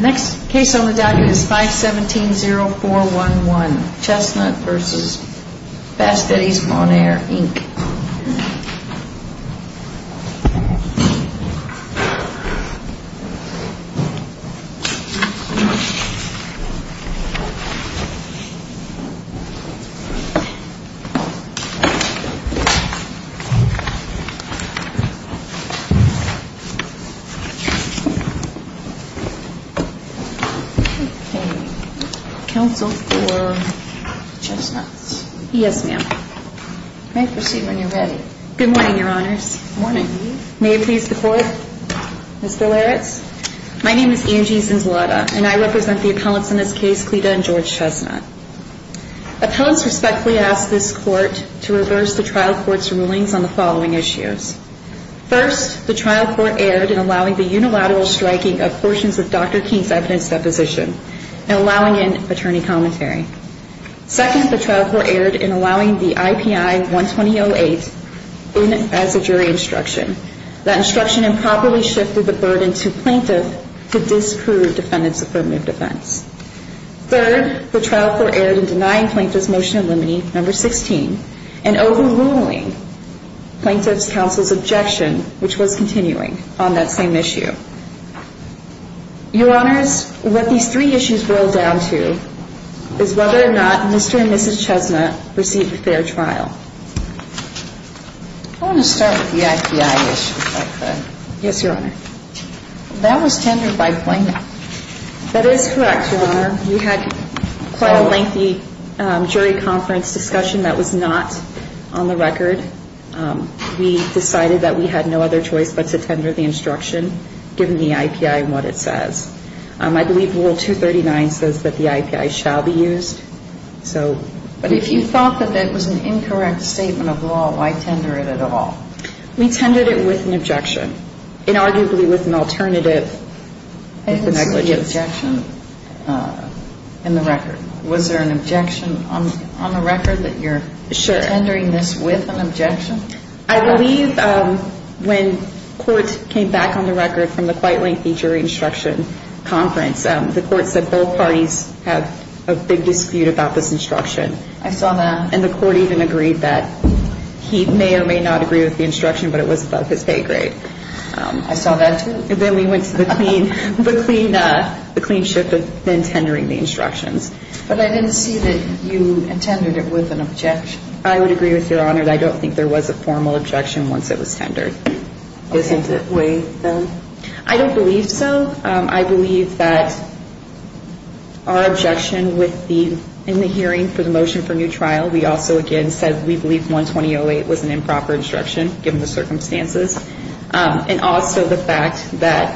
Next case on the down is 517-0411, Chestnut v. Fast Eddies' Bon-Air, Inc. Okay. Counsel for Chestnut. Yes, ma'am. May I proceed when you're ready? Good morning, Your Honors. Good morning. May it please the Court? Ms. Billeritz? My name is Angie Zanzalotta, and I represent the appellants in this case, Cleta and George Chestnut. Appellants respectfully ask this Court to reverse the trial court's rulings on the following issues. First, the trial court erred in allowing the unilateral striking of portions of Dr. King's evidence deposition and allowing in attorney commentary. Second, the trial court erred in allowing the IPI 120-08 in as a jury instruction. That instruction improperly shifted the burden to plaintiff to disprove defendant's affirmative defense. Third, the trial court erred in denying plaintiff's motion eliminating No. 16 and overruling plaintiff's counsel's objection, which was continuing, on that same issue. Your Honors, what these three issues boil down to is whether or not Mr. and Mrs. Chestnut received a fair trial. I want to start with the IPI issue, if I could. Yes, Your Honor. That was tendered by plaintiff. That is correct, Your Honor. We had quite a lengthy jury conference discussion that was not on the record. We decided that we had no other choice but to tender the instruction, given the IPI and what it says. I believe Rule 239 says that the IPI shall be used. But if you thought that that was an incorrect statement of law, why tender it at all? We tendered it with an objection, and arguably with an alternative. I didn't see the objection in the record. Was there an objection on the record that you're tendering this with an objection? I believe when court came back on the record from the quite lengthy jury instruction conference, the court said both parties have a big dispute about this instruction. I saw that. And the court even agreed that he may or may not agree with the instruction, but it was above his pay grade. I saw that, too. And then we went to the clean ship of then tendering the instructions. But I didn't see that you intended it with an objection. I would agree with you, Your Honor, that I don't think there was a formal objection once it was tendered. Is that the way, then? I don't believe so. I believe that our objection in the hearing for the motion for new trial, we also, again, said we believe 120.08 was an improper instruction given the circumstances. And also the fact that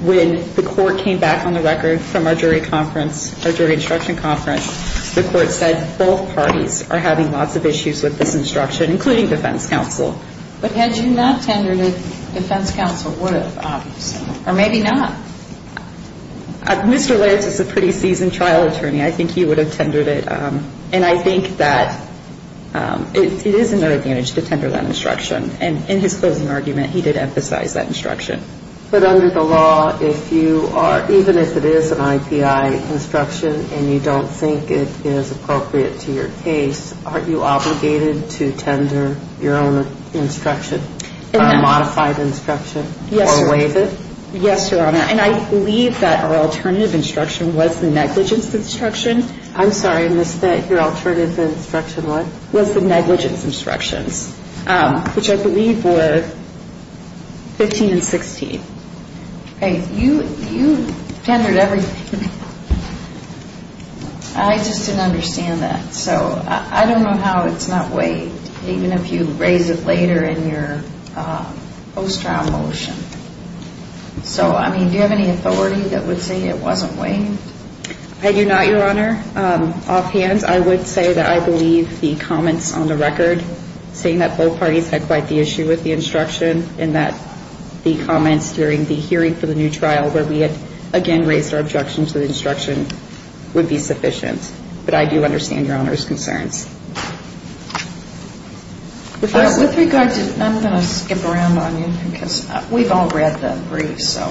when the court came back on the record from our jury conference, our jury instruction conference, the court said both parties are having lots of issues with this instruction, including defense counsel. But had you not tendered it, defense counsel would have, obviously. Or maybe not. Mr. Lance is a pretty seasoned trial attorney. I think he would have tendered it. And I think that it is in their advantage to tender that instruction. And in his closing argument, he did emphasize that instruction. But under the law, if you are, even if it is an IPI instruction and you don't think it is appropriate to your case, aren't you obligated to tender your own instruction, a modified instruction? Yes, Your Honor. Or waive it? Yes, Your Honor. And I believe that our alternative instruction was the negligence instruction. I'm sorry, I missed that. Your alternative instruction, what? Was the negligence instructions, which I believe were 15 and 16. You tendered everything. I just didn't understand that. So I don't know how it's not waived, even if you raise it later in your post-trial motion. So, I mean, do you have any authority that would say it wasn't waived? I do not, Your Honor. Offhand, I would say that I believe the comments on the record, saying that both parties had quite the issue with the instruction and that the comments during the hearing for the new trial, where we had again raised our objections to the instruction, would be sufficient. But I do understand Your Honor's concerns. With regard to, I'm going to skip around on you because we've all read the briefs, so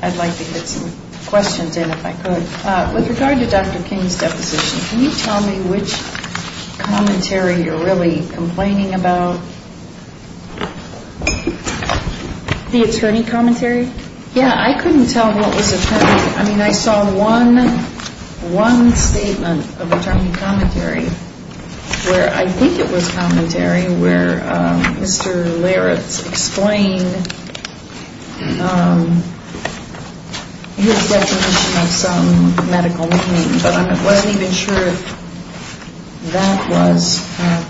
I'd like to get some questions in if I could. With regard to Dr. King's deposition, can you tell me which commentary you're really complaining about? The attorney commentary? Yeah, I couldn't tell what was attorney. I mean, I saw one statement of attorney commentary, where I think it was commentary, where Mr. Laritz explained his definition of some medical meaning, but I wasn't even sure if that was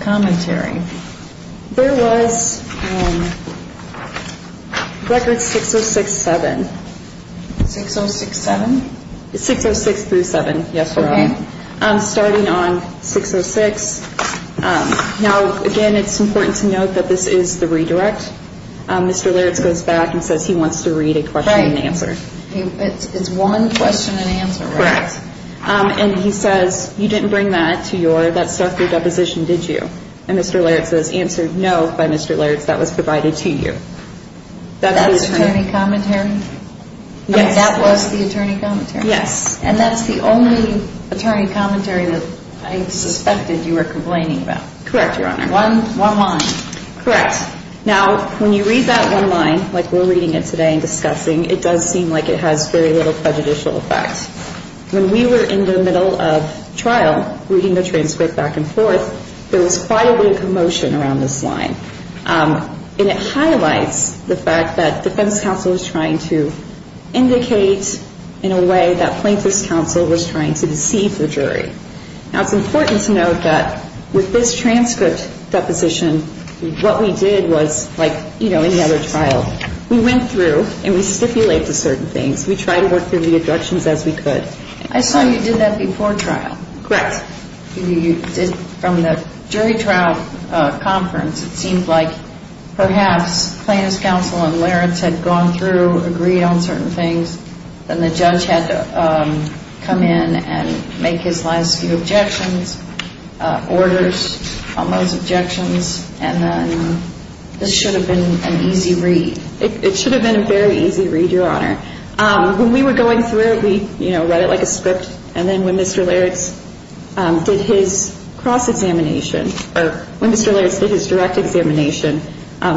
commentary. There was records 606-7. 606-7? 606-7, yes, Your Honor, starting on 606. Now, again, it's important to note that this is the redirect. Mr. Laritz goes back and says he wants to read a question and answer. It's one question and answer, right? Correct. And he says, you didn't bring that to your deposition, did you? And Mr. Laritz says, answered no by Mr. Laritz, that was provided to you. That's attorney commentary? Yes. That was the attorney commentary? Yes. And that's the only attorney commentary that I suspected you were complaining about? Correct, Your Honor. One line? Correct. Now, when you read that one line, like we're reading it today and discussing, it does seem like it has very little prejudicial effect. When we were in the middle of trial reading the transcript back and forth, there was quite a bit of commotion around this line. And it highlights the fact that defense counsel was trying to indicate in a way that plaintiff's counsel was trying to deceive the jury. Now, it's important to note that with this transcript deposition, what we did was like, you know, any other trial. We went through and we stipulated certain things. We tried to work through the deductions as we could. I saw you did that before trial. Correct. You did from the jury trial conference. It seemed like perhaps plaintiff's counsel and Laritz had gone through, agreed on certain things, then the judge had to come in and make his last few objections, orders on those objections, and then this should have been an easy read. It should have been a very easy read, Your Honor. When we were going through it, we, you know, read it like a script. And then when Mr. Laritz did his cross-examination, or when Mr. Laritz did his direct examination,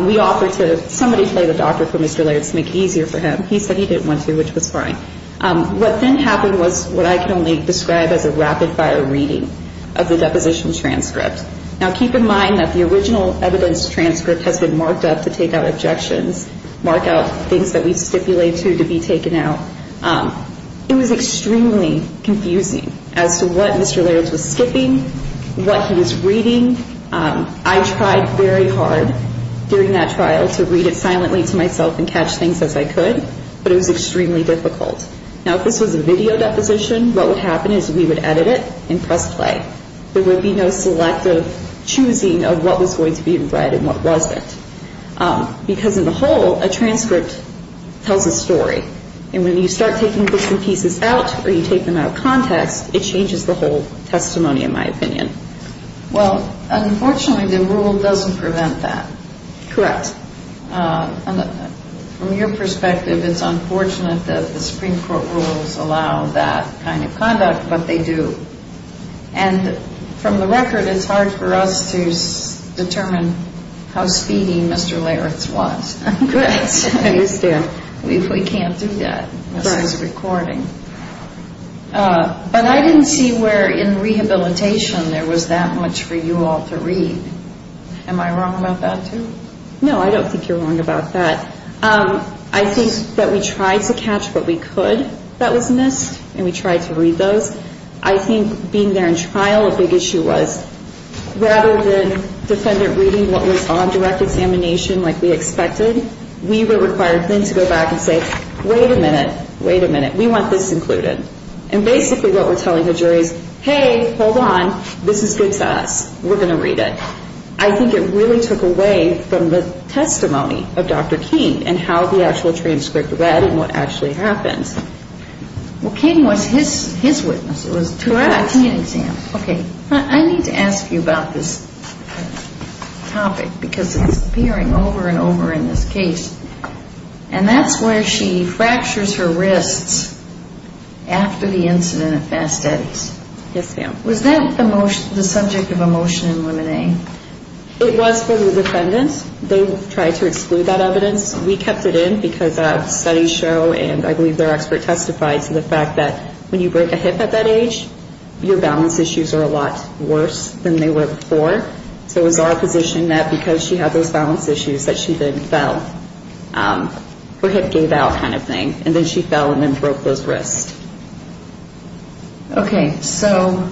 we offered to somebody play the doctor for Mr. Laritz to make it easier for him. He said he didn't want to, which was fine. What then happened was what I can only describe as a rapid-fire reading of the deposition transcript. Now, keep in mind that the original evidence transcript has been marked up to take out objections, mark out things that we've stipulated to be taken out. It was extremely confusing as to what Mr. Laritz was skipping, what he was reading. I tried very hard during that trial to read it silently to myself and catch things as I could, but it was extremely difficult. Now, if this was a video deposition, what would happen is we would edit it and press play. There would be no selective choosing of what was going to be read and what wasn't. Because in the whole, a transcript tells a story, and when you start taking bits and pieces out or you take them out of context, it changes the whole testimony, in my opinion. Well, unfortunately, the rule doesn't prevent that. Correct. From your perspective, it's unfortunate that the Supreme Court rules allow that kind of conduct, but they do. And from the record, it's hard for us to determine how speedy Mr. Laritz was. I understand. We can't do that. This is recording. But I didn't see where in rehabilitation there was that much for you all to read. Am I wrong about that, too? No, I don't think you're wrong about that. I think that we tried to catch what we could that was missed, and we tried to read those. I think being there in trial, a big issue was rather than defendant reading what was on direct examination like we expected, we were required then to go back and say, wait a minute, wait a minute. We want this included. And basically what we're telling the jury is, hey, hold on. This is good to us. We're going to read it. I think it really took away from the testimony of Dr. King and how the actual transcript read and what actually happened. Well, King was his witness. It was direct. Direct exam. Okay. I need to ask you about this topic because it's appearing over and over in this case. And that's where she fractures her wrists after the incident at Fast Eddie's. Yes, ma'am. Was that the subject of a motion in Limine? It was for the defendants. They tried to exclude that evidence. We kept it in because studies show, and I believe their expert testified to the fact that when you break a hip at that age, your balance issues are a lot worse than they were before. So it was our position that because she had those balance issues that she then fell. Her hip gave out kind of thing. And then she fell and then broke those wrists. Okay. So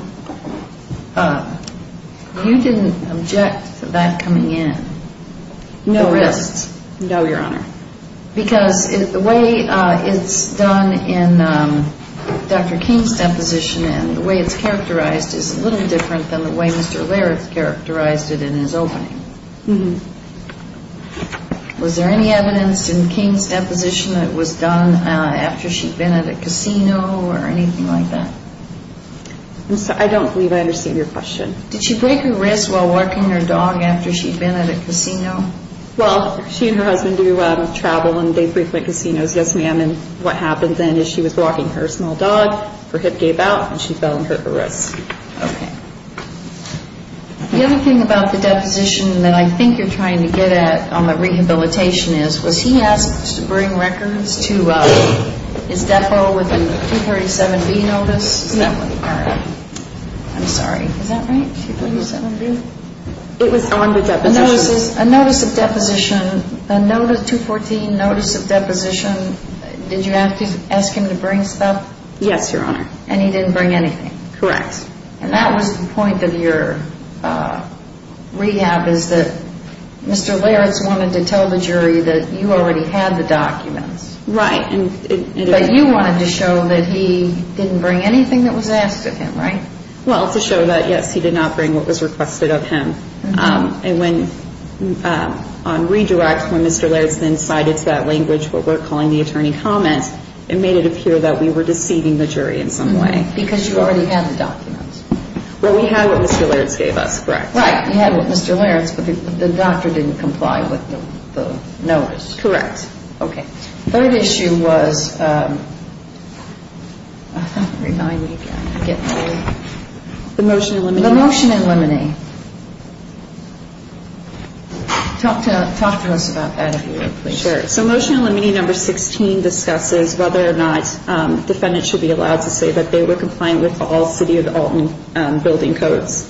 you didn't object to that coming in, the wrists? No, Your Honor. Because the way it's done in Dr. King's deposition and the way it's characterized is a little different than the way Mr. Laird's characterized it in his opening. Was there any evidence in King's deposition that it was done after she'd been at a casino or anything like that? I don't believe I understand your question. Did she break her wrists while walking her dog after she'd been at a casino? Well, she and her husband do travel and they frequent casinos, yes, ma'am. And what happened then is she was walking her small dog, her hip gave out, and she fell and hurt her wrists. Okay. The other thing about the deposition that I think you're trying to get at on the rehabilitation is, was he asked to bring records to his depo with a 237B notice? No. I'm sorry. Is that right, 237B? It was on the deposition. A notice of deposition, a 214 notice of deposition, did you ask him to bring stuff? Yes, Your Honor. And he didn't bring anything? Correct. And that was the point of your rehab is that Mr. Laird's wanted to tell the jury that you already had the documents. Right. But you wanted to show that he didn't bring anything that was asked of him, right? Well, to show that, yes, he did not bring what was requested of him. And when, on redirect, when Mr. Laird's then cited to that language what we're calling the attorney comments, it made it appear that we were deceiving the jury in some way. Because you already had the documents. Well, we had what Mr. Laird's gave us, correct. Right. You had what Mr. Laird's, but the doctor didn't comply with the notice. Correct. Okay. Third issue was, remind me again. The motion in limine. Talk to us about that if you would, please. Sure. So motion in limine number 16 discusses whether or not defendants should be allowed to say that they were compliant with all City of Alton building codes.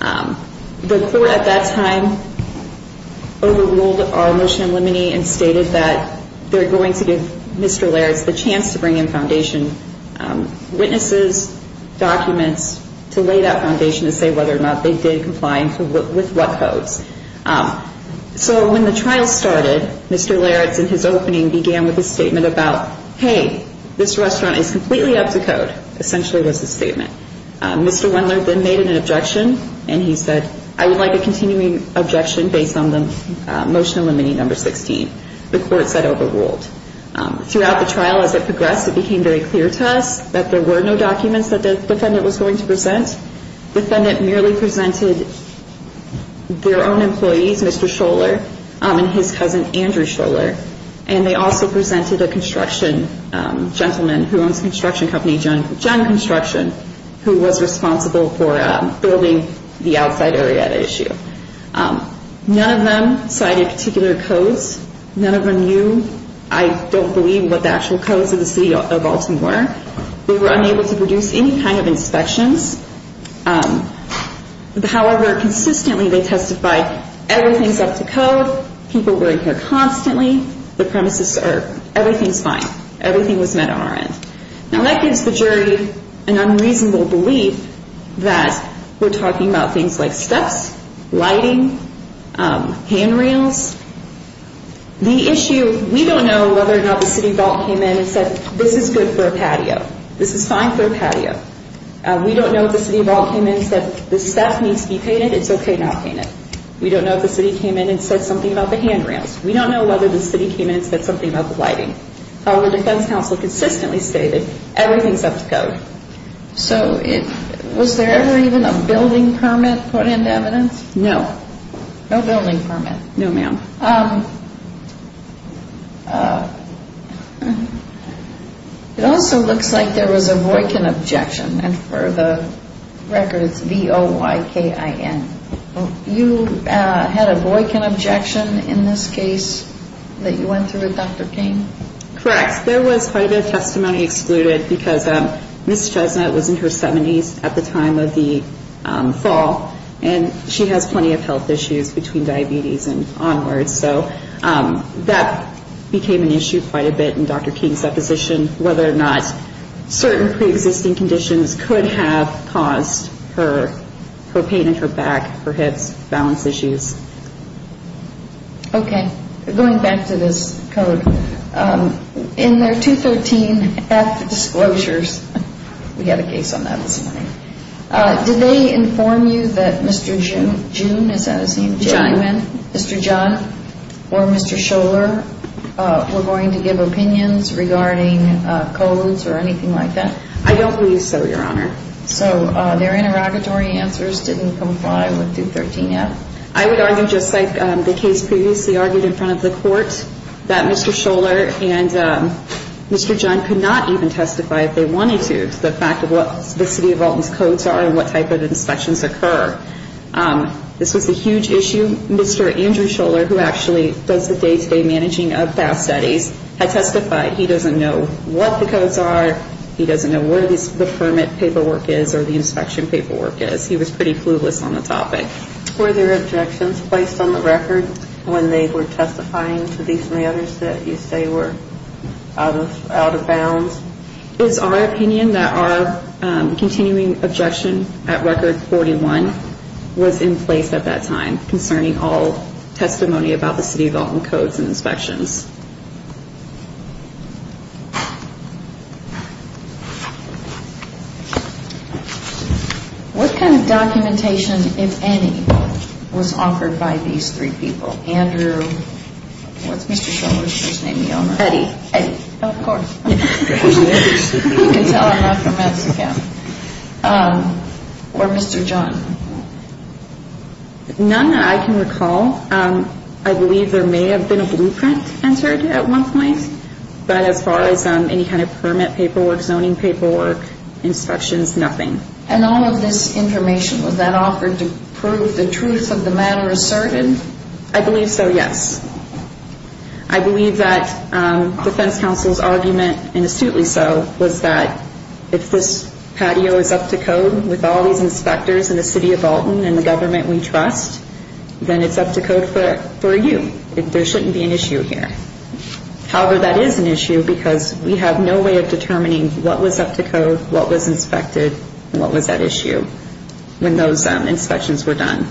The court at that time overruled our motion in limine and stated that they're going to give Mr. Laird's the chance to bring in witnesses, documents, to lay that foundation to say whether or not they did comply with what codes. So when the trial started, Mr. Laird's, in his opening, began with a statement about, hey, this restaurant is completely up to code, essentially was his statement. Mr. Wendler then made an objection, and he said, I would like a continuing objection based on the motion in limine number 16. The court said overruled. Throughout the trial, as it progressed, it became very clear to us that there were no documents that the defendant was going to present. The defendant merely presented their own employees, Mr. Scholler and his cousin Andrew Scholler, and they also presented a construction gentleman who owns construction company John Construction, who was responsible for building the outside area at issue. None of them cited particular codes. None of them knew, I don't believe, what the actual codes of the city of Baltimore were. They were unable to produce any kind of inspections. However, consistently they testified everything's up to code, people were in here constantly, the premises are, everything's fine. Everything was met on our end. Now, that gives the jury an unreasonable belief that we're talking about things like steps, lighting, handrails. The issue, we don't know whether or not the city vault came in and said this is good for a patio. This is fine for a patio. We don't know if the city vault came in and said the step needs to be painted, it's okay not to paint it. We don't know if the city came in and said something about the handrails. We don't know whether the city came in and said something about the lighting. The defense counsel consistently stated everything's up to code. So was there ever even a building permit put into evidence? No. No building permit? No, ma'am. It also looks like there was a Boykin objection, and for the record it's B-O-Y-K-I-N. You had a Boykin objection in this case that you went through with Dr. King? Correct. There was quite a bit of testimony excluded because Ms. Chesnut was in her 70s at the time of the fall, and she has plenty of health issues between diabetes and onwards. So that became an issue quite a bit in Dr. King's deposition, whether or not certain preexisting conditions could have caused her pain in her back, her hips, balance issues. Okay. Going back to this code, in their 213-F disclosures, we had a case on that this morning, did they inform you that Mr. June, is that his name? John. Did Mr. Simon, Mr. John, or Mr. Scholler were going to give opinions regarding codes or anything like that? I don't believe so, Your Honor. So their interrogatory answers didn't comply with 213-F? I would argue just like the case previously argued in front of the court, that Mr. Scholler and Mr. John could not even testify if they wanted to, to the fact of what the City of Alton's codes are and what type of inspections occur. This was a huge issue. Mr. Andrew Scholler, who actually does the day-to-day managing of FAS studies, had testified. He doesn't know what the codes are. He doesn't know where the permit paperwork is or the inspection paperwork is. He was pretty clueless on the topic. Were there objections placed on the record when they were testifying to these matters that you say were out of bounds? It is our opinion that our continuing objection at Record 41 was in place at that time concerning all testimony about the City of Alton codes and inspections. What kind of documentation, if any, was offered by these three people? Andrew, what's Mr. Scholler's first name, Your Honor? Eddie. Eddie. Of course. You can tell I'm not from Mexico. Or Mr. John? None that I can recall. I believe there may have been a blueprint entered at one point, but as far as any kind of permit paperwork, zoning paperwork, inspections, nothing. And all of this information, was that offered to prove the truth of the matter asserted? I believe so, yes. I believe that defense counsel's argument, and astutely so, was that if this patio is up to code with all these inspectors in the City of Alton and the government we trust, then it's up to code for you. There shouldn't be an issue here. However, that is an issue because we have no way of determining what was up to code, what was inspected, and what was at issue when those inspections were done.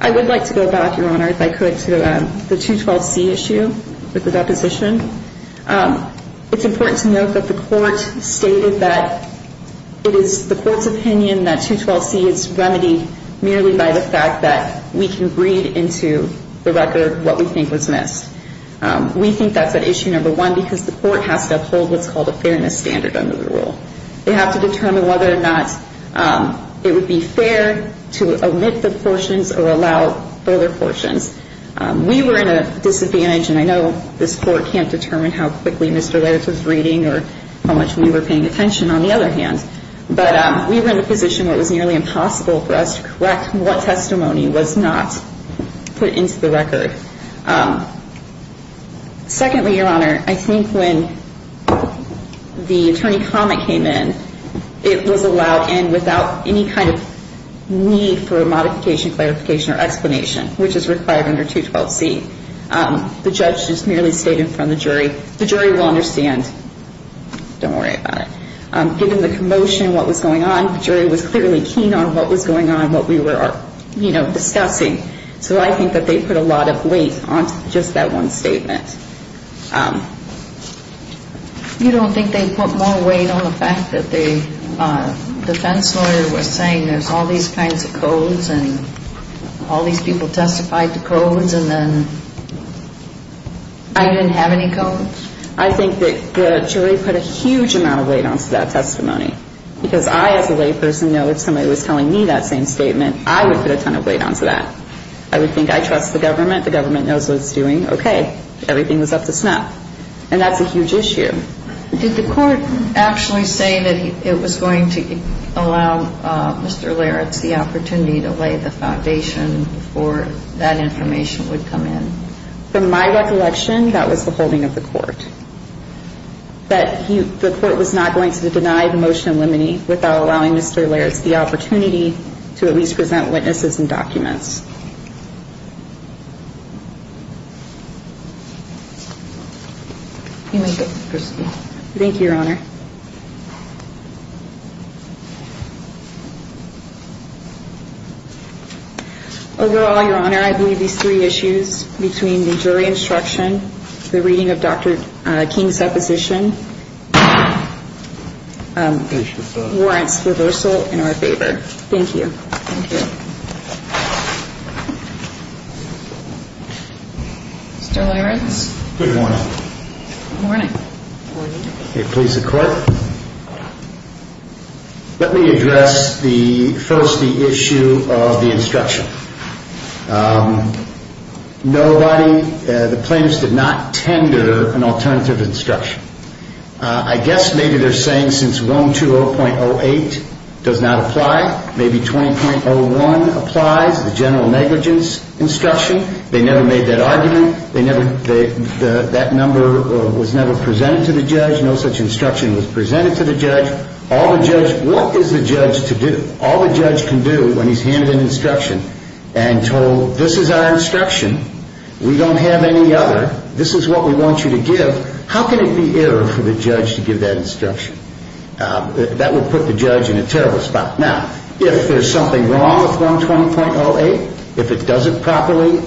I would like to go back, Your Honor, if I could, to the 212C issue with the deposition. It's important to note that the court stated that it is the court's opinion that 212C is remedied merely by the fact that we can read into the record what we think was missed. We think that's at issue number one because the court has to uphold what's called a fairness standard under the rule. They have to determine whether or not it would be fair to omit the portions or allow further portions. We were at a disadvantage, and I know this court can't determine how quickly Mr. Lairds was reading or how much we were paying attention, on the other hand, but we were in a position where it was nearly impossible for us to correct what testimony was not put into the record. Secondly, Your Honor, I think when the attorney comment came in, it was allowed in without any kind of need for a modification, clarification, or explanation, which is required under 212C. The judge just merely stated in front of the jury, the jury will understand, don't worry about it. Given the commotion, what was going on, the jury was clearly keen on what was going on, what we were, you know, discussing. So I think that they put a lot of weight onto just that one statement. You don't think they put more weight on the fact that the defense lawyer was saying there's all these kinds of codes and all these people testified to codes and then you didn't have any codes? I think that the jury put a huge amount of weight onto that testimony because I, as a layperson, know if somebody was telling me that same statement, I would put a ton of weight onto that. I would think I trust the government, the government knows what it's doing, okay. Everything was up to snuff. And that's a huge issue. Did the court actually say that it was going to allow Mr. Laritz the opportunity to lay the foundation for that information would come in? From my recollection, that was the holding of the court, that the court was not going to deny the motion in limine without allowing Mr. Laritz the opportunity to at least present witnesses and documents. You may disperse. Thank you, Your Honor. Overall, Your Honor, I believe these three issues between the jury instruction, the reading of Dr. King's supposition warrants reversal in our favor. Thank you. Thank you. Mr. Laritz. Good morning. Good morning. Good morning. Okay, please, the court. Let me address first the issue of the instruction. Nobody, the plaintiffs did not tender an alternative instruction. I guess maybe they're saying since 120.08 does not apply, maybe 20.01 applies, the general negligence instruction. They never made that argument. That number was never presented to the judge. No such instruction was presented to the judge. All the judge, what is the judge to do? All the judge can do when he's handed an instruction and told this is our instruction. We don't have any other. This is what we want you to give. How can it be error for the judge to give that instruction? That would put the judge in a terrible spot. Now, if there's something wrong with 120.08, if it doesn't properly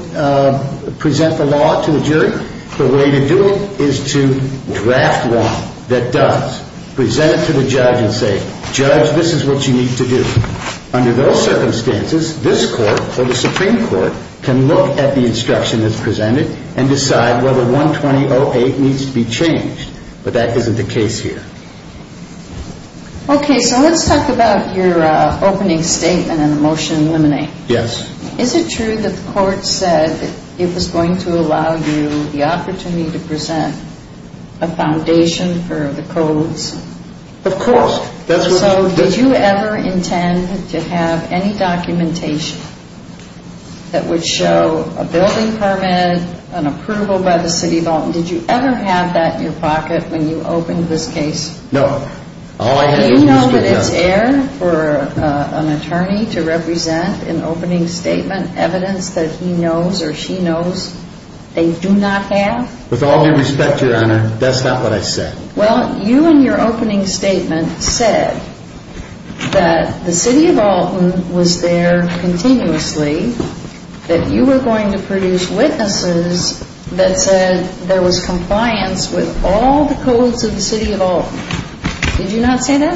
present the law to the jury, the way to do it is to draft law that does, present it to the judge and say, Judge, this is what you need to do. Under those circumstances, this court or the Supreme Court can look at the instruction that's presented and decide whether 120.08 needs to be changed. But that isn't the case here. Okay, so let's talk about your opening statement and the motion to eliminate. Yes. Is it true that the court said it was going to allow you the opportunity to present a foundation for the codes? Of course. So did you ever intend to have any documentation that would show a building permit, an approval by the city vault, and did you ever have that in your pocket when you opened this case? No. Do you know that it's error for an attorney to represent an opening statement, evidence that he knows or she knows they do not have? With all due respect, Your Honor, that's not what I said. Well, you in your opening statement said that the city of Alton was there continuously, that you were going to produce witnesses that said there was compliance with all the codes of the city of Alton. Did you not say that?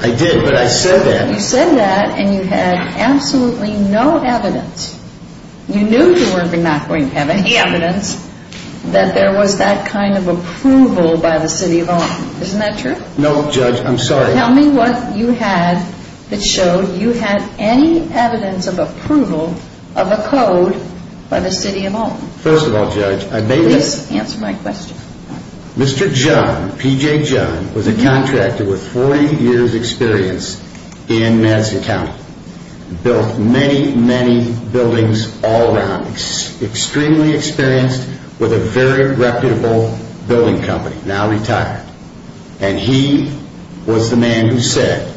I did, but I said that. You said that, and you had absolutely no evidence. You knew you were not going to have any evidence that there was that kind of approval by the city of Alton. Isn't that true? No, Judge, I'm sorry. Tell me what you had that showed you had any evidence of approval of a code by the city of Alton. First of all, Judge, I made this. Please answer my question. Mr. John, P.J. John, was a contractor with 40 years' experience in Madison County, built many, many buildings all around, extremely experienced, with a very reputable building company, now retired. And he was the man who said,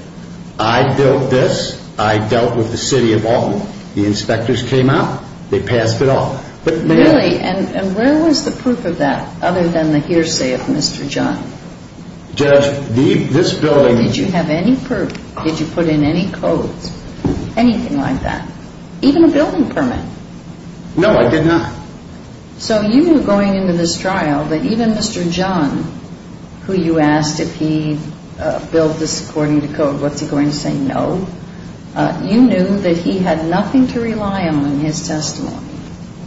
I built this, I dealt with the city of Alton. The inspectors came out, they passed it off. Really? And where was the proof of that, other than the hearsay of Mr. John? Judge, this building— Did you have any proof? Did you put in any codes, anything like that, even a building permit? No, I did not. So you knew going into this trial that even Mr. John, who you asked if he built this according to code, what's he going to say, no? You knew that he had nothing to rely on in his testimony,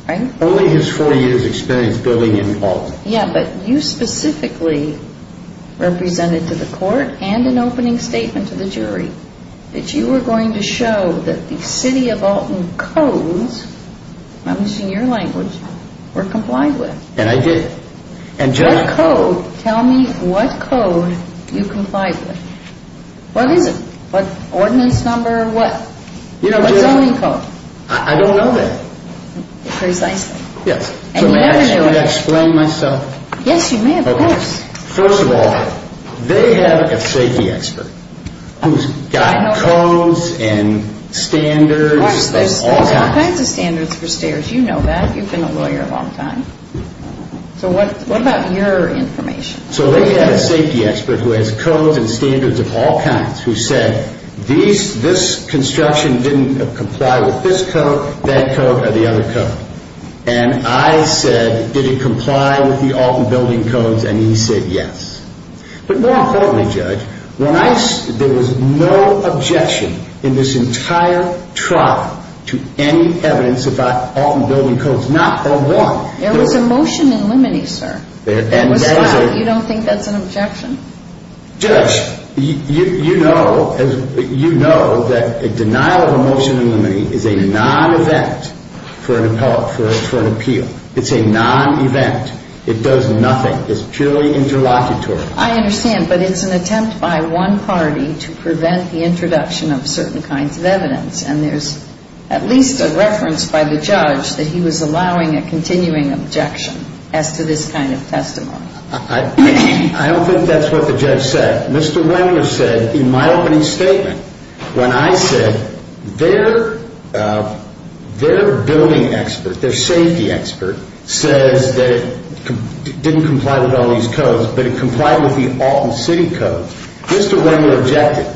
right? Only his 40 years' experience building in Alton. Yeah, but you specifically represented to the court and an opening statement to the jury that you were going to show that the city of Alton codes, I'm using your language, were complied with. And I did. What code? Tell me what code you complied with. What is it? What ordinance number, what zoning code? I don't know that. Precisely. Yes. So may I explain myself? Yes, you may, of course. First of all, they have a safety expert who's got codes and standards of all kinds. There's all kinds of standards for stairs. You know that. You've been a lawyer a long time. So what about your information? So they have a safety expert who has codes and standards of all kinds, who said this construction didn't comply with this code, that code, or the other code. And I said, did it comply with the Alton building codes? And he said yes. But more importantly, Judge, there was no objection in this entire trial to any evidence about Alton building codes, not one. There was a motion in limine, sir. There was not. You don't think that's an objection? Judge, you know that a denial of a motion in limine is a non-event for an appeal. It's a non-event. It does nothing. It's purely interlocutory. I understand. But it's an attempt by one party to prevent the introduction of certain kinds of evidence. And there's at least a reference by the judge that he was allowing a continuing objection as to this kind of testimony. I don't think that's what the judge said. Mr. Wendler said, in my opening statement, when I said their building expert, their safety expert, says that it didn't comply with all these codes, but it complied with the Alton City codes, Mr. Wendler objected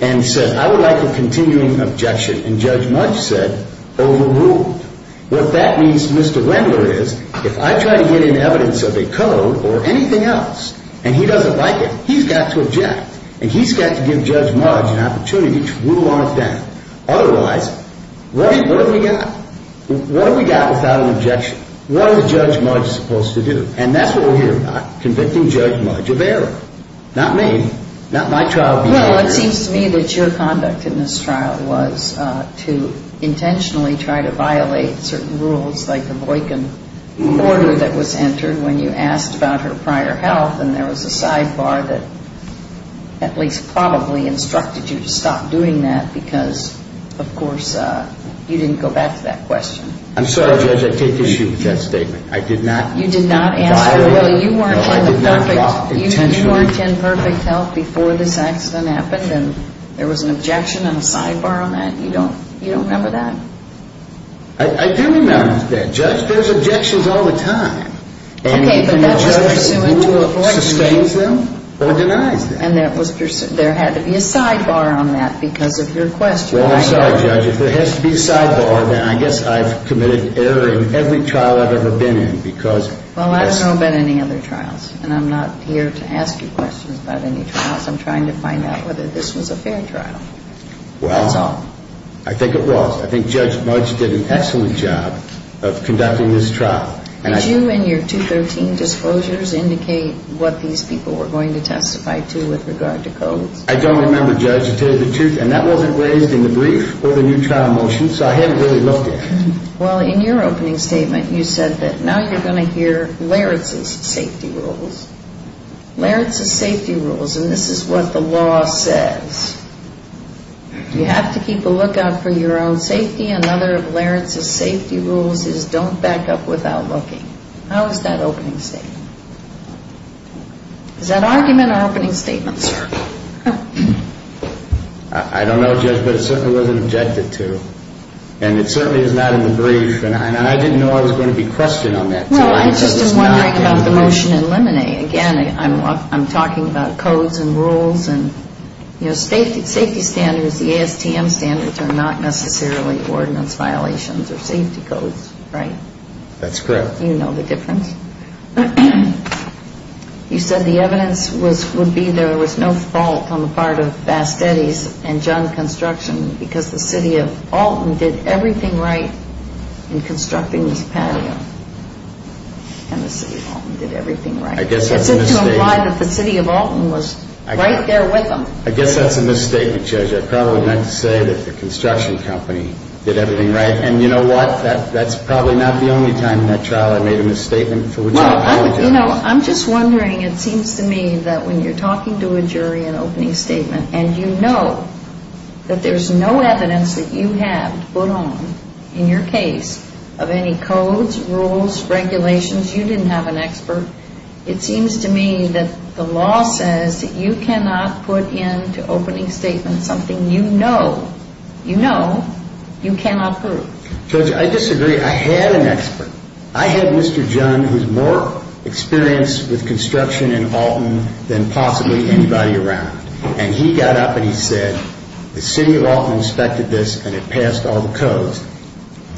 and said, I would like a continuing objection. And Judge Mudge said, overruled. What that means to Mr. Wendler is, if I try to get in evidence of a code or anything else and he doesn't like it, he's got to object. And he's got to give Judge Mudge an opportunity to rule on it then. Otherwise, what have we got? What have we got without an objection? What is Judge Mudge supposed to do? And that's what we're here about, convicting Judge Mudge of error. Not me. Not my trial being error. Well, it seems to me that your conduct in this trial was to intentionally try to violate certain rules like the Boykin order that was entered when you asked about her prior health. And there was a sidebar that at least probably instructed you to stop doing that because, of course, you didn't go back to that question. I'm sorry, Judge. I take issue with that statement. You did not answer it? No, I did not drop it intentionally. You weren't in perfect health before this accident happened and there was an objection and a sidebar on that? You don't remember that? I do remember that. Judge, there's objections all the time. Okay, but that was pursuant to a board decision. And you can judge who sustains them or denies them. And there had to be a sidebar on that because of your question. Well, I'm sorry, Judge. If there has to be a sidebar, then I guess I've committed error in every trial I've ever been in because... Well, I don't know about any other trials and I'm not here to ask you questions about any trials. I'm trying to find out whether this was a fair trial. That's all. Well, I think it was. I think Judge Mudge did an excellent job of conducting this trial. Did you in your 213 disclosures indicate what these people were going to testify to with regard to codes? I don't remember, Judge. To tell you the truth, and that wasn't raised in the brief or the new trial motion, so I haven't really looked at it. Well, in your opening statement, you said that now you're going to hear Larratt's safety rules. Larratt's safety rules, and this is what the law says. You have to keep a lookout for your own safety. Another of Larratt's safety rules is don't back up without looking. How is that opening statement? Is that argument or opening statement, sir? I don't know, Judge, but it certainly wasn't objected to, and it certainly is not in the brief, and I didn't know I was going to be questioned on that, too. Well, I'm just wondering about the motion in Lemonade. Again, I'm talking about codes and rules and safety standards. The ASTM standards are not necessarily ordinance violations or safety codes, right? That's correct. You know the difference. You said the evidence would be there was no fault on the part of Bastetti's and John Construction because the city of Alton did everything right in constructing this patio, and the city of Alton did everything right. I guess that's a mistake. It's up to them why the city of Alton was right there with them. I guess that's a mistake, Judge. I probably meant to say that the construction company did everything right, and you know what? That's probably not the only time in that trial I made a misstatement. Well, you know, I'm just wondering. It seems to me that when you're talking to a jury in an opening statement and you know that there's no evidence that you have to put on in your case of any codes, rules, regulations, you didn't have an expert, it seems to me that the law says that you cannot put into opening statements something you know you know you cannot prove. Judge, I disagree. I had an expert. I had Mr. John who's more experienced with construction in Alton than possibly anybody around, and he got up and he said the city of Alton inspected this and it passed all the codes.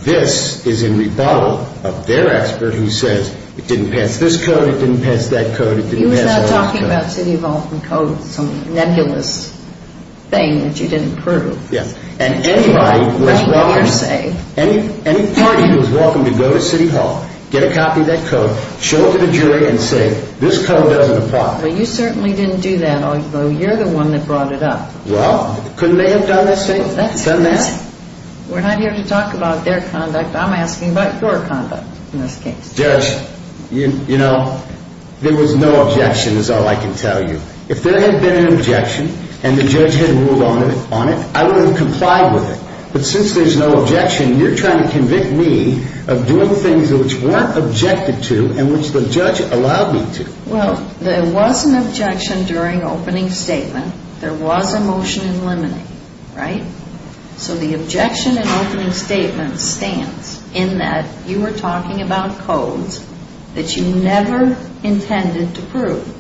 This is in rebuttal of their expert who says it didn't pass this code, it didn't pass that code, it didn't pass all those codes. He was not talking about city of Alton code, some nebulous thing that you didn't prove. Yes. And anybody who was welcome to go to city hall, get a copy of that code, show it to the jury and say this code doesn't apply. Well, you certainly didn't do that, although you're the one that brought it up. Well, couldn't they have done the same, done that? We're not here to talk about their conduct. I'm asking about your conduct in this case. Judge, you know, there was no objection is all I can tell you. If there had been an objection and the judge had ruled on it, I would have complied with it. But since there's no objection, you're trying to convict me of doing things which weren't objected to and which the judge allowed me to. Well, there was an objection during opening statement. There was a motion in limine, right? So the objection in opening statement stands in that you were talking about codes that you never intended to prove.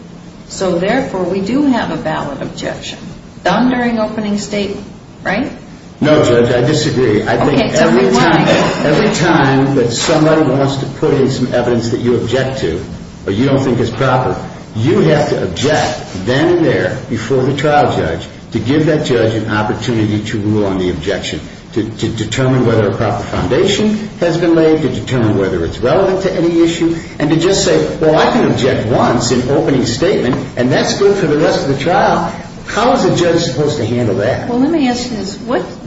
So, therefore, we do have a valid objection done during opening statement, right? No, Judge, I disagree. I think every time that somebody wants to put in some evidence that you object to or you don't think is proper, you have to object then and there before the trial judge to give that judge an opportunity to rule on the objection, to determine whether a proper foundation has been laid, to determine whether it's relevant to any issue, and to just say, well, I can object once in opening statement and that's good for the rest of the trial. How is a judge supposed to handle that? Well, let me ask you this.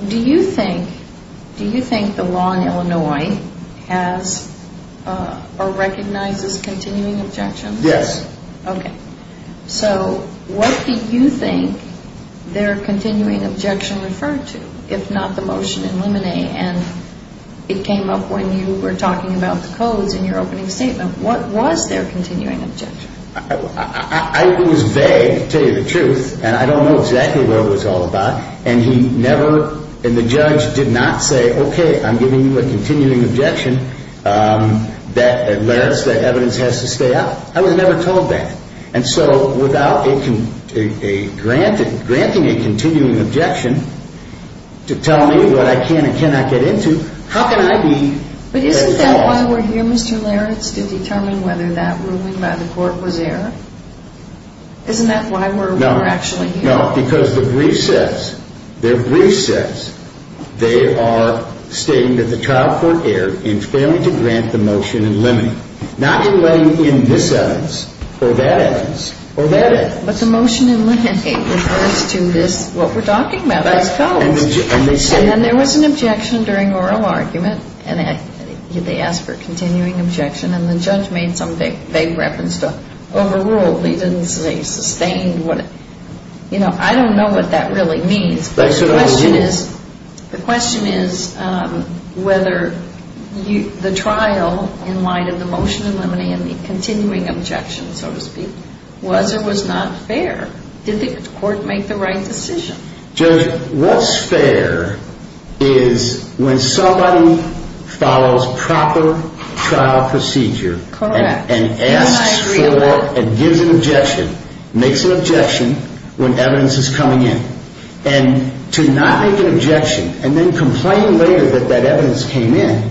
Do you think the law in Illinois has or recognizes continuing objections? Yes. Okay. So what do you think their continuing objection referred to, if not the motion in limine? And it came up when you were talking about the codes in your opening statement. What was their continuing objection? It was vague, to tell you the truth, and I don't know exactly what it was all about. And he never, and the judge did not say, okay, I'm giving you a continuing objection. That evidence has to stay out. I was never told that. And so without a grant, granting a continuing objection to tell me what I can and cannot get into, how can I be at fault? But isn't that why we're here, Mr. Leritz, to determine whether that ruling by the court was error? Isn't that why we're actually here? No. No, because the brief says, their brief says they are stating that the trial court erred in failing to grant the motion in limine. Not in letting in this evidence or that evidence or that evidence. But the motion in limine refers to this, what we're talking about, those codes. And there was an objection during oral argument, and they asked for a continuing objection, and the judge made some vague reference to overruled. He didn't say sustained. You know, I don't know what that really means. The question is whether the trial in light of the motion in limine and the continuing objection, so to speak, was or was not fair. Did the court make the right decision? Judge, what's fair is when somebody follows proper trial procedure. Correct. And asks for and gives an objection, makes an objection when evidence is coming in. And to not make an objection and then complain later that that evidence came in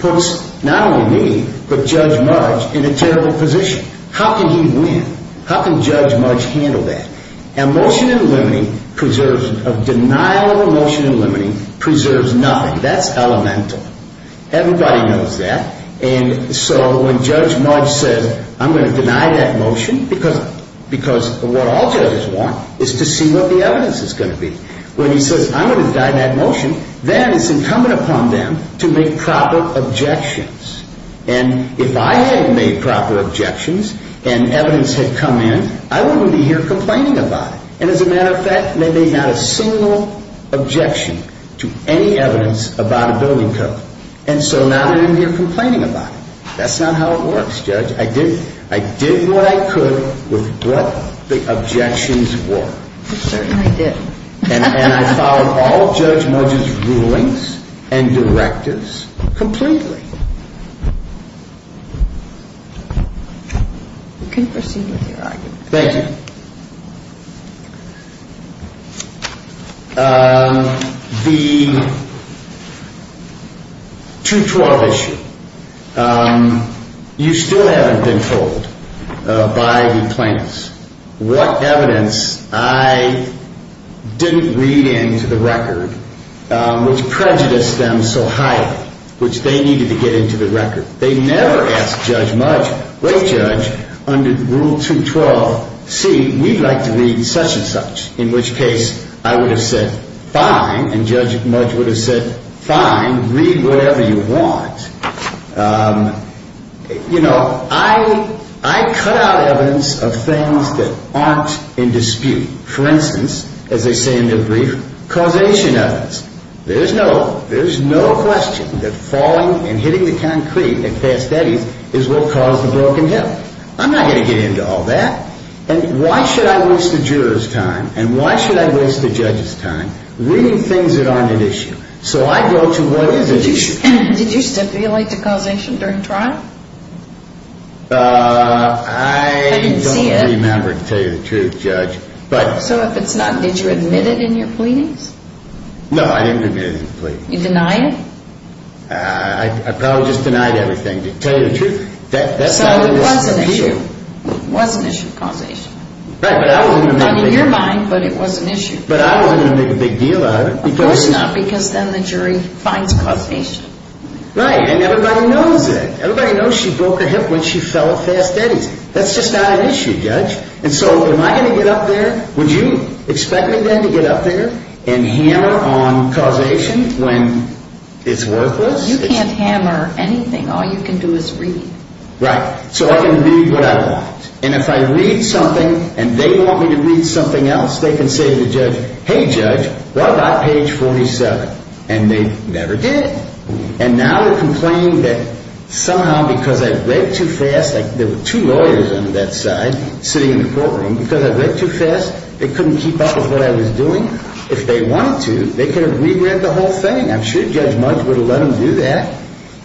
puts not only me but Judge March in a terrible position. How can he win? How can Judge March handle that? A motion in limine preserves, a denial of a motion in limine preserves nothing. That's elemental. Everybody knows that. And so when Judge March says, I'm going to deny that motion because what all judges want is to see what the evidence is going to be. When he says, I'm going to deny that motion, then it's incumbent upon them to make proper objections. And if I hadn't made proper objections and evidence had come in, I wouldn't be here complaining about it. And as a matter of fact, they made not a single objection to any evidence about a building code. And so now they're in here complaining about it. That's not how it works, Judge. I did what I could with what the objections were. I certainly did. And I followed all of Judge March's rulings and directives completely. You can proceed with your argument. Thank you. The 212 issue. You still haven't been told by the plaintiffs what evidence I didn't read into the record, which prejudiced them so highly, which they needed to get into the record. They never asked Judge March, great judge, under Rule 212c, we'd like to read such and such, in which case I would have said, fine. And Judge March would have said, fine, read whatever you want. You know, I cut out evidence of things that aren't in dispute. For instance, as they say in their brief, causation evidence. There's no question that falling and hitting the concrete at Fast Eddie's is what caused the broken hip. I'm not going to get into all that. And why should I waste the juror's time and why should I waste the judge's time reading things that aren't at issue? So I go to what is at issue. Did you stipulate the causation during trial? I don't remember, to tell you the truth, Judge. So if it's not, did you admit it in your pleadings? No, I didn't admit it in the pleadings. You denied it? I probably just denied everything, to tell you the truth. So it was an issue. It was an issue of causation. Right, but I wasn't going to make... Not in your mind, but it was an issue. But I wasn't going to make a big deal out of it because... Of course not, because then the jury finds causation. Right, and everybody knows that. Everybody knows she broke her hip when she fell at Fast Eddie's. That's just not an issue, Judge. And so am I going to get up there? Would you expect me then to get up there and hammer on causation when it's worthless? You can't hammer anything. All you can do is read. Right, so I can read what I want. And if I read something and they want me to read something else, they can say to the judge, Hey, Judge, what about page 47? And they never did. And now they're complaining that somehow because I read too fast, there were two lawyers on that side sitting in the courtroom. Because I read too fast, they couldn't keep up with what I was doing. If they wanted to, they could have re-read the whole thing. I'm sure Judge Mudge would have let them do that.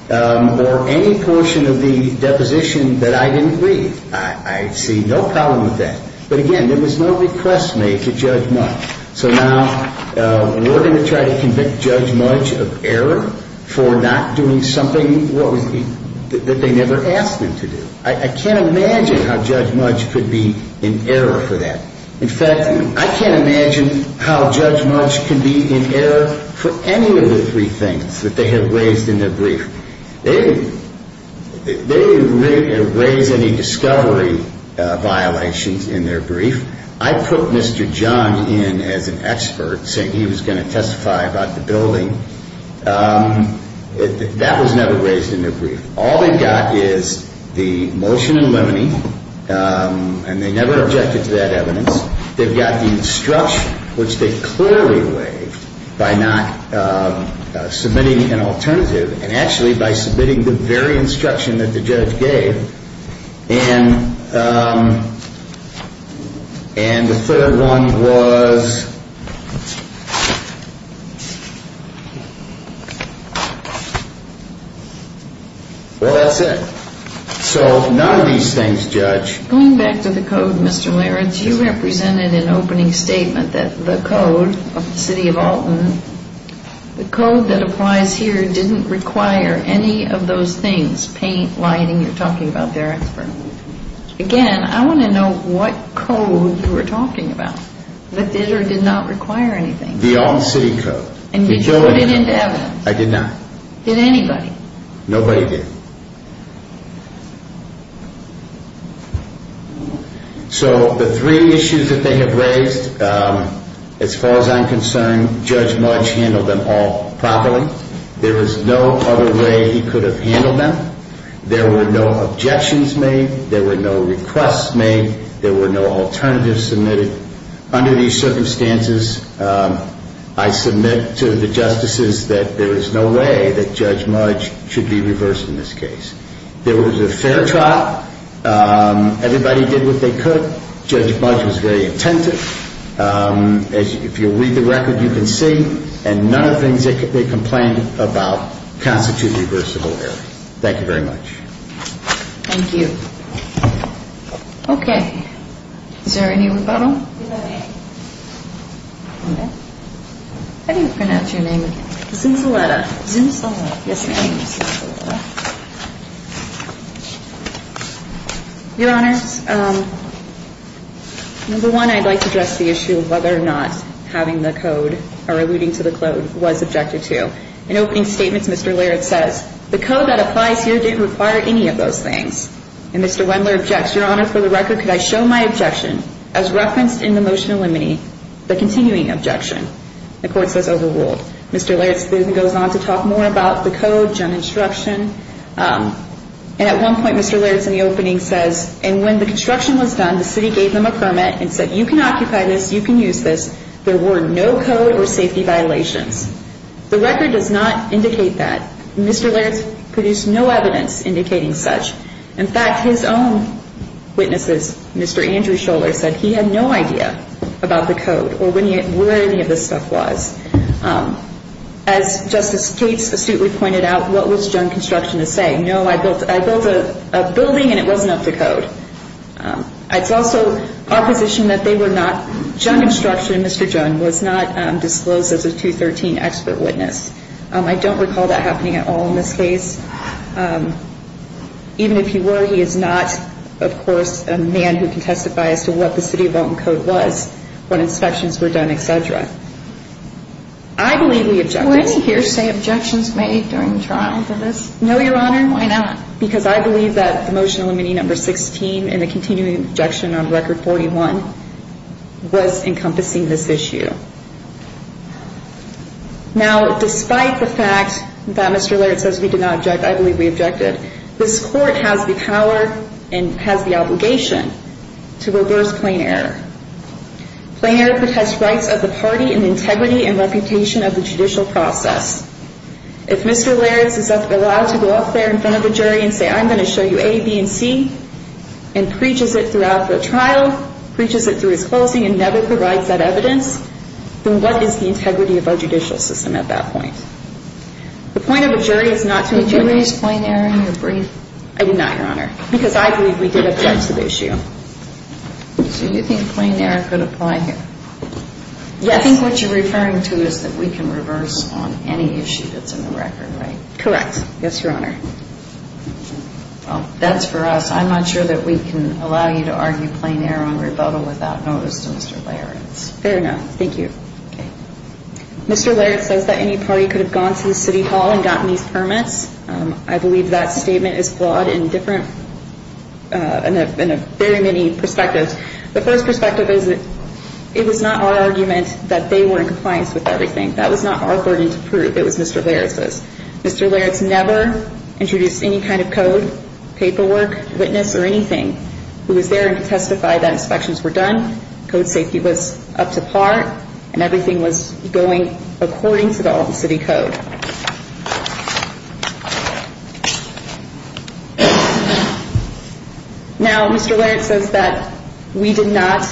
Or any portion of the deposition that I didn't read. I see no problem with that. But again, there was no request made to Judge Mudge. So now we're going to try to convict Judge Mudge of error for not doing something that they never asked him to do. I can't imagine how Judge Mudge could be in error for that. In fact, I can't imagine how Judge Mudge can be in error for any of the three things that they have raised in their brief. They didn't raise any discovery violations in their brief. I put Mr. John in as an expert, saying he was going to testify about the building. That was never raised in their brief. All they've got is the motion in limine, and they never objected to that evidence. They've got the instruction, which they clearly waived by not submitting an alternative, and actually by submitting the very instruction that the judge gave. And the third one was... Well, that's it. So none of these things, Judge. Going back to the code, Mr. Laird, you represented an opening statement that the code of the city of Alton, the code that applies here, didn't require any of those things, paint, lighting. You're talking about their expert. Again, I want to know what code you were talking about that did or did not require anything. The Alton City Code. And you put it into evidence. I did not. Did anybody? Nobody did. So the three issues that they have raised, as far as I'm concerned, Judge Mudge handled them all properly. There was no other way he could have handled them. There were no objections made. There were no requests made. There were no alternatives submitted. Under these circumstances, I submit to the justices that there is no way that Judge Mudge should be reversed in this case. There was a fair trial. Everybody did what they could. Judge Mudge was very attentive. If you read the record, you can see, and none of the things that they complained about constitute reversible error. Thank you very much. Thank you. Okay. Is there any rebuttal? How do you pronounce your name again? Zunzaleta. Zunzaleta. Yes, ma'am. Your Honor, number one, I'd like to address the issue of whether or not having the code or alluding to the code was objected to. In opening statements, Mr. Laird says, the code that applies here didn't require any of those things. And Mr. Wendler objects. Your Honor, for the record, could I show my objection as referenced in the motion of limine, the continuing objection? The court says overruled. Mr. Laird goes on to talk more about the code, gun instruction. And at one point, Mr. Laird, in the opening, says, and when the construction was done, the city gave them a permit and said, you can occupy this, you can use this. There were no code or safety violations. The record does not indicate that. Mr. Laird produced no evidence indicating such. In fact, his own witnesses, Mr. Andrew Scholler, said he had no idea about the code or where any of this stuff was. As Justice Gates astutely pointed out, what was gun construction to say? No, I built a building and it wasn't up to code. It's also our position that they were not, gun instruction, Mr. Gun, was not disclosed as a 213 expert witness. I don't recall that happening at all in this case. Even if he were, he is not, of course, a man who can testify as to what the city of Elkhorn code was when inspections were done, et cetera. I believe we objected. Were any hearsay objections made during the trial for this? No, Your Honor. Why not? Because I believe that the motion of limine number 16 and the continuing objection on record 41 was encompassing this issue. Now, despite the fact that Mr. Laird says we did not object, I believe we objected. This court has the power and has the obligation to reverse plain error. Plain error protests rights of the party and integrity and reputation of the judicial process. If Mr. Laird is allowed to go up there in front of a jury and say, I'm going to show you A, B, and C, and preaches it throughout the trial, preaches it through his closing and never provides that evidence, then what is the integrity of our judicial system at that point? The point of a jury is not to judge. Did you raise plain error in your brief? I did not, Your Honor, because I believe we did object to the issue. So you think plain error could apply here? Yes. I think what you're referring to is that we can reverse on any issue that's in the record, right? Correct. Yes, Your Honor. Well, that's for us. I'm not sure that we can allow you to argue plain error on rebuttal without notice to Mr. Laird. Fair enough. Thank you. Okay. Mr. Laird says that any party could have gone to the city hall and gotten these permits. I believe that statement is flawed in a very many perspectives. The first perspective is that it was not our argument that they were in compliance with everything. That was not our burden to prove. It was Mr. Laird's. Mr. Laird's never introduced any kind of code, paperwork, witness, or anything. He was there to testify that inspections were done, code safety was up to par, and everything was going according to the Alton City Code. Now, Mr. Laird says that we did not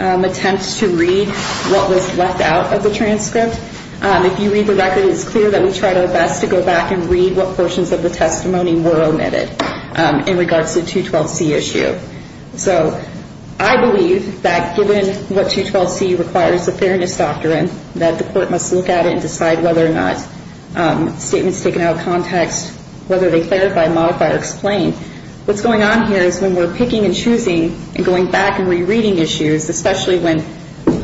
attempt to read what was left out of the transcript. If you read the record, it is clear that we tried our best to go back and read what portions of the testimony were omitted in regards to the 212C issue. So I believe that given what 212C requires, the Fairness Doctrine, that the court must look at it and decide whether or not statements taken out of context, whether they clarify, modify, or explain. What's going on here is when we're picking and choosing and going back and rereading issues, especially when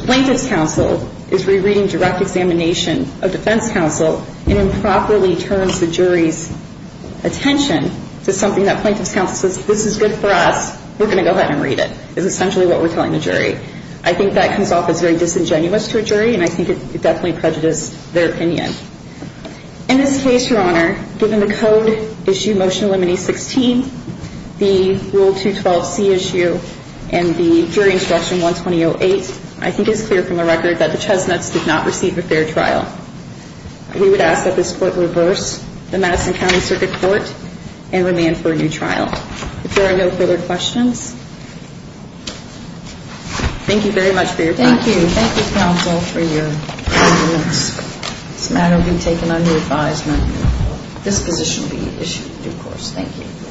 plaintiff's counsel is rereading direct examination of defense counsel and improperly turns the jury's attention to something that plaintiff's counsel says, this is good for us, we're going to go ahead and read it, is essentially what we're telling the jury. I think that comes off as very disingenuous to a jury, and I think it definitely prejudiced their opinion. In this case, Your Honor, given the code issue Motion to Eliminate 16, the Rule 212C issue and the Jury Instruction 12008, I think it's clear from the record that the Chesnuts did not receive a fair trial. We would ask that this court reverse the Madison County Circuit Court and remand for a new trial. If there are no further questions, thank you very much for your time. Thank you. Thank you, counsel, for your evidence. This matter will be taken under advisement. This position will be issued in due course. Thank you.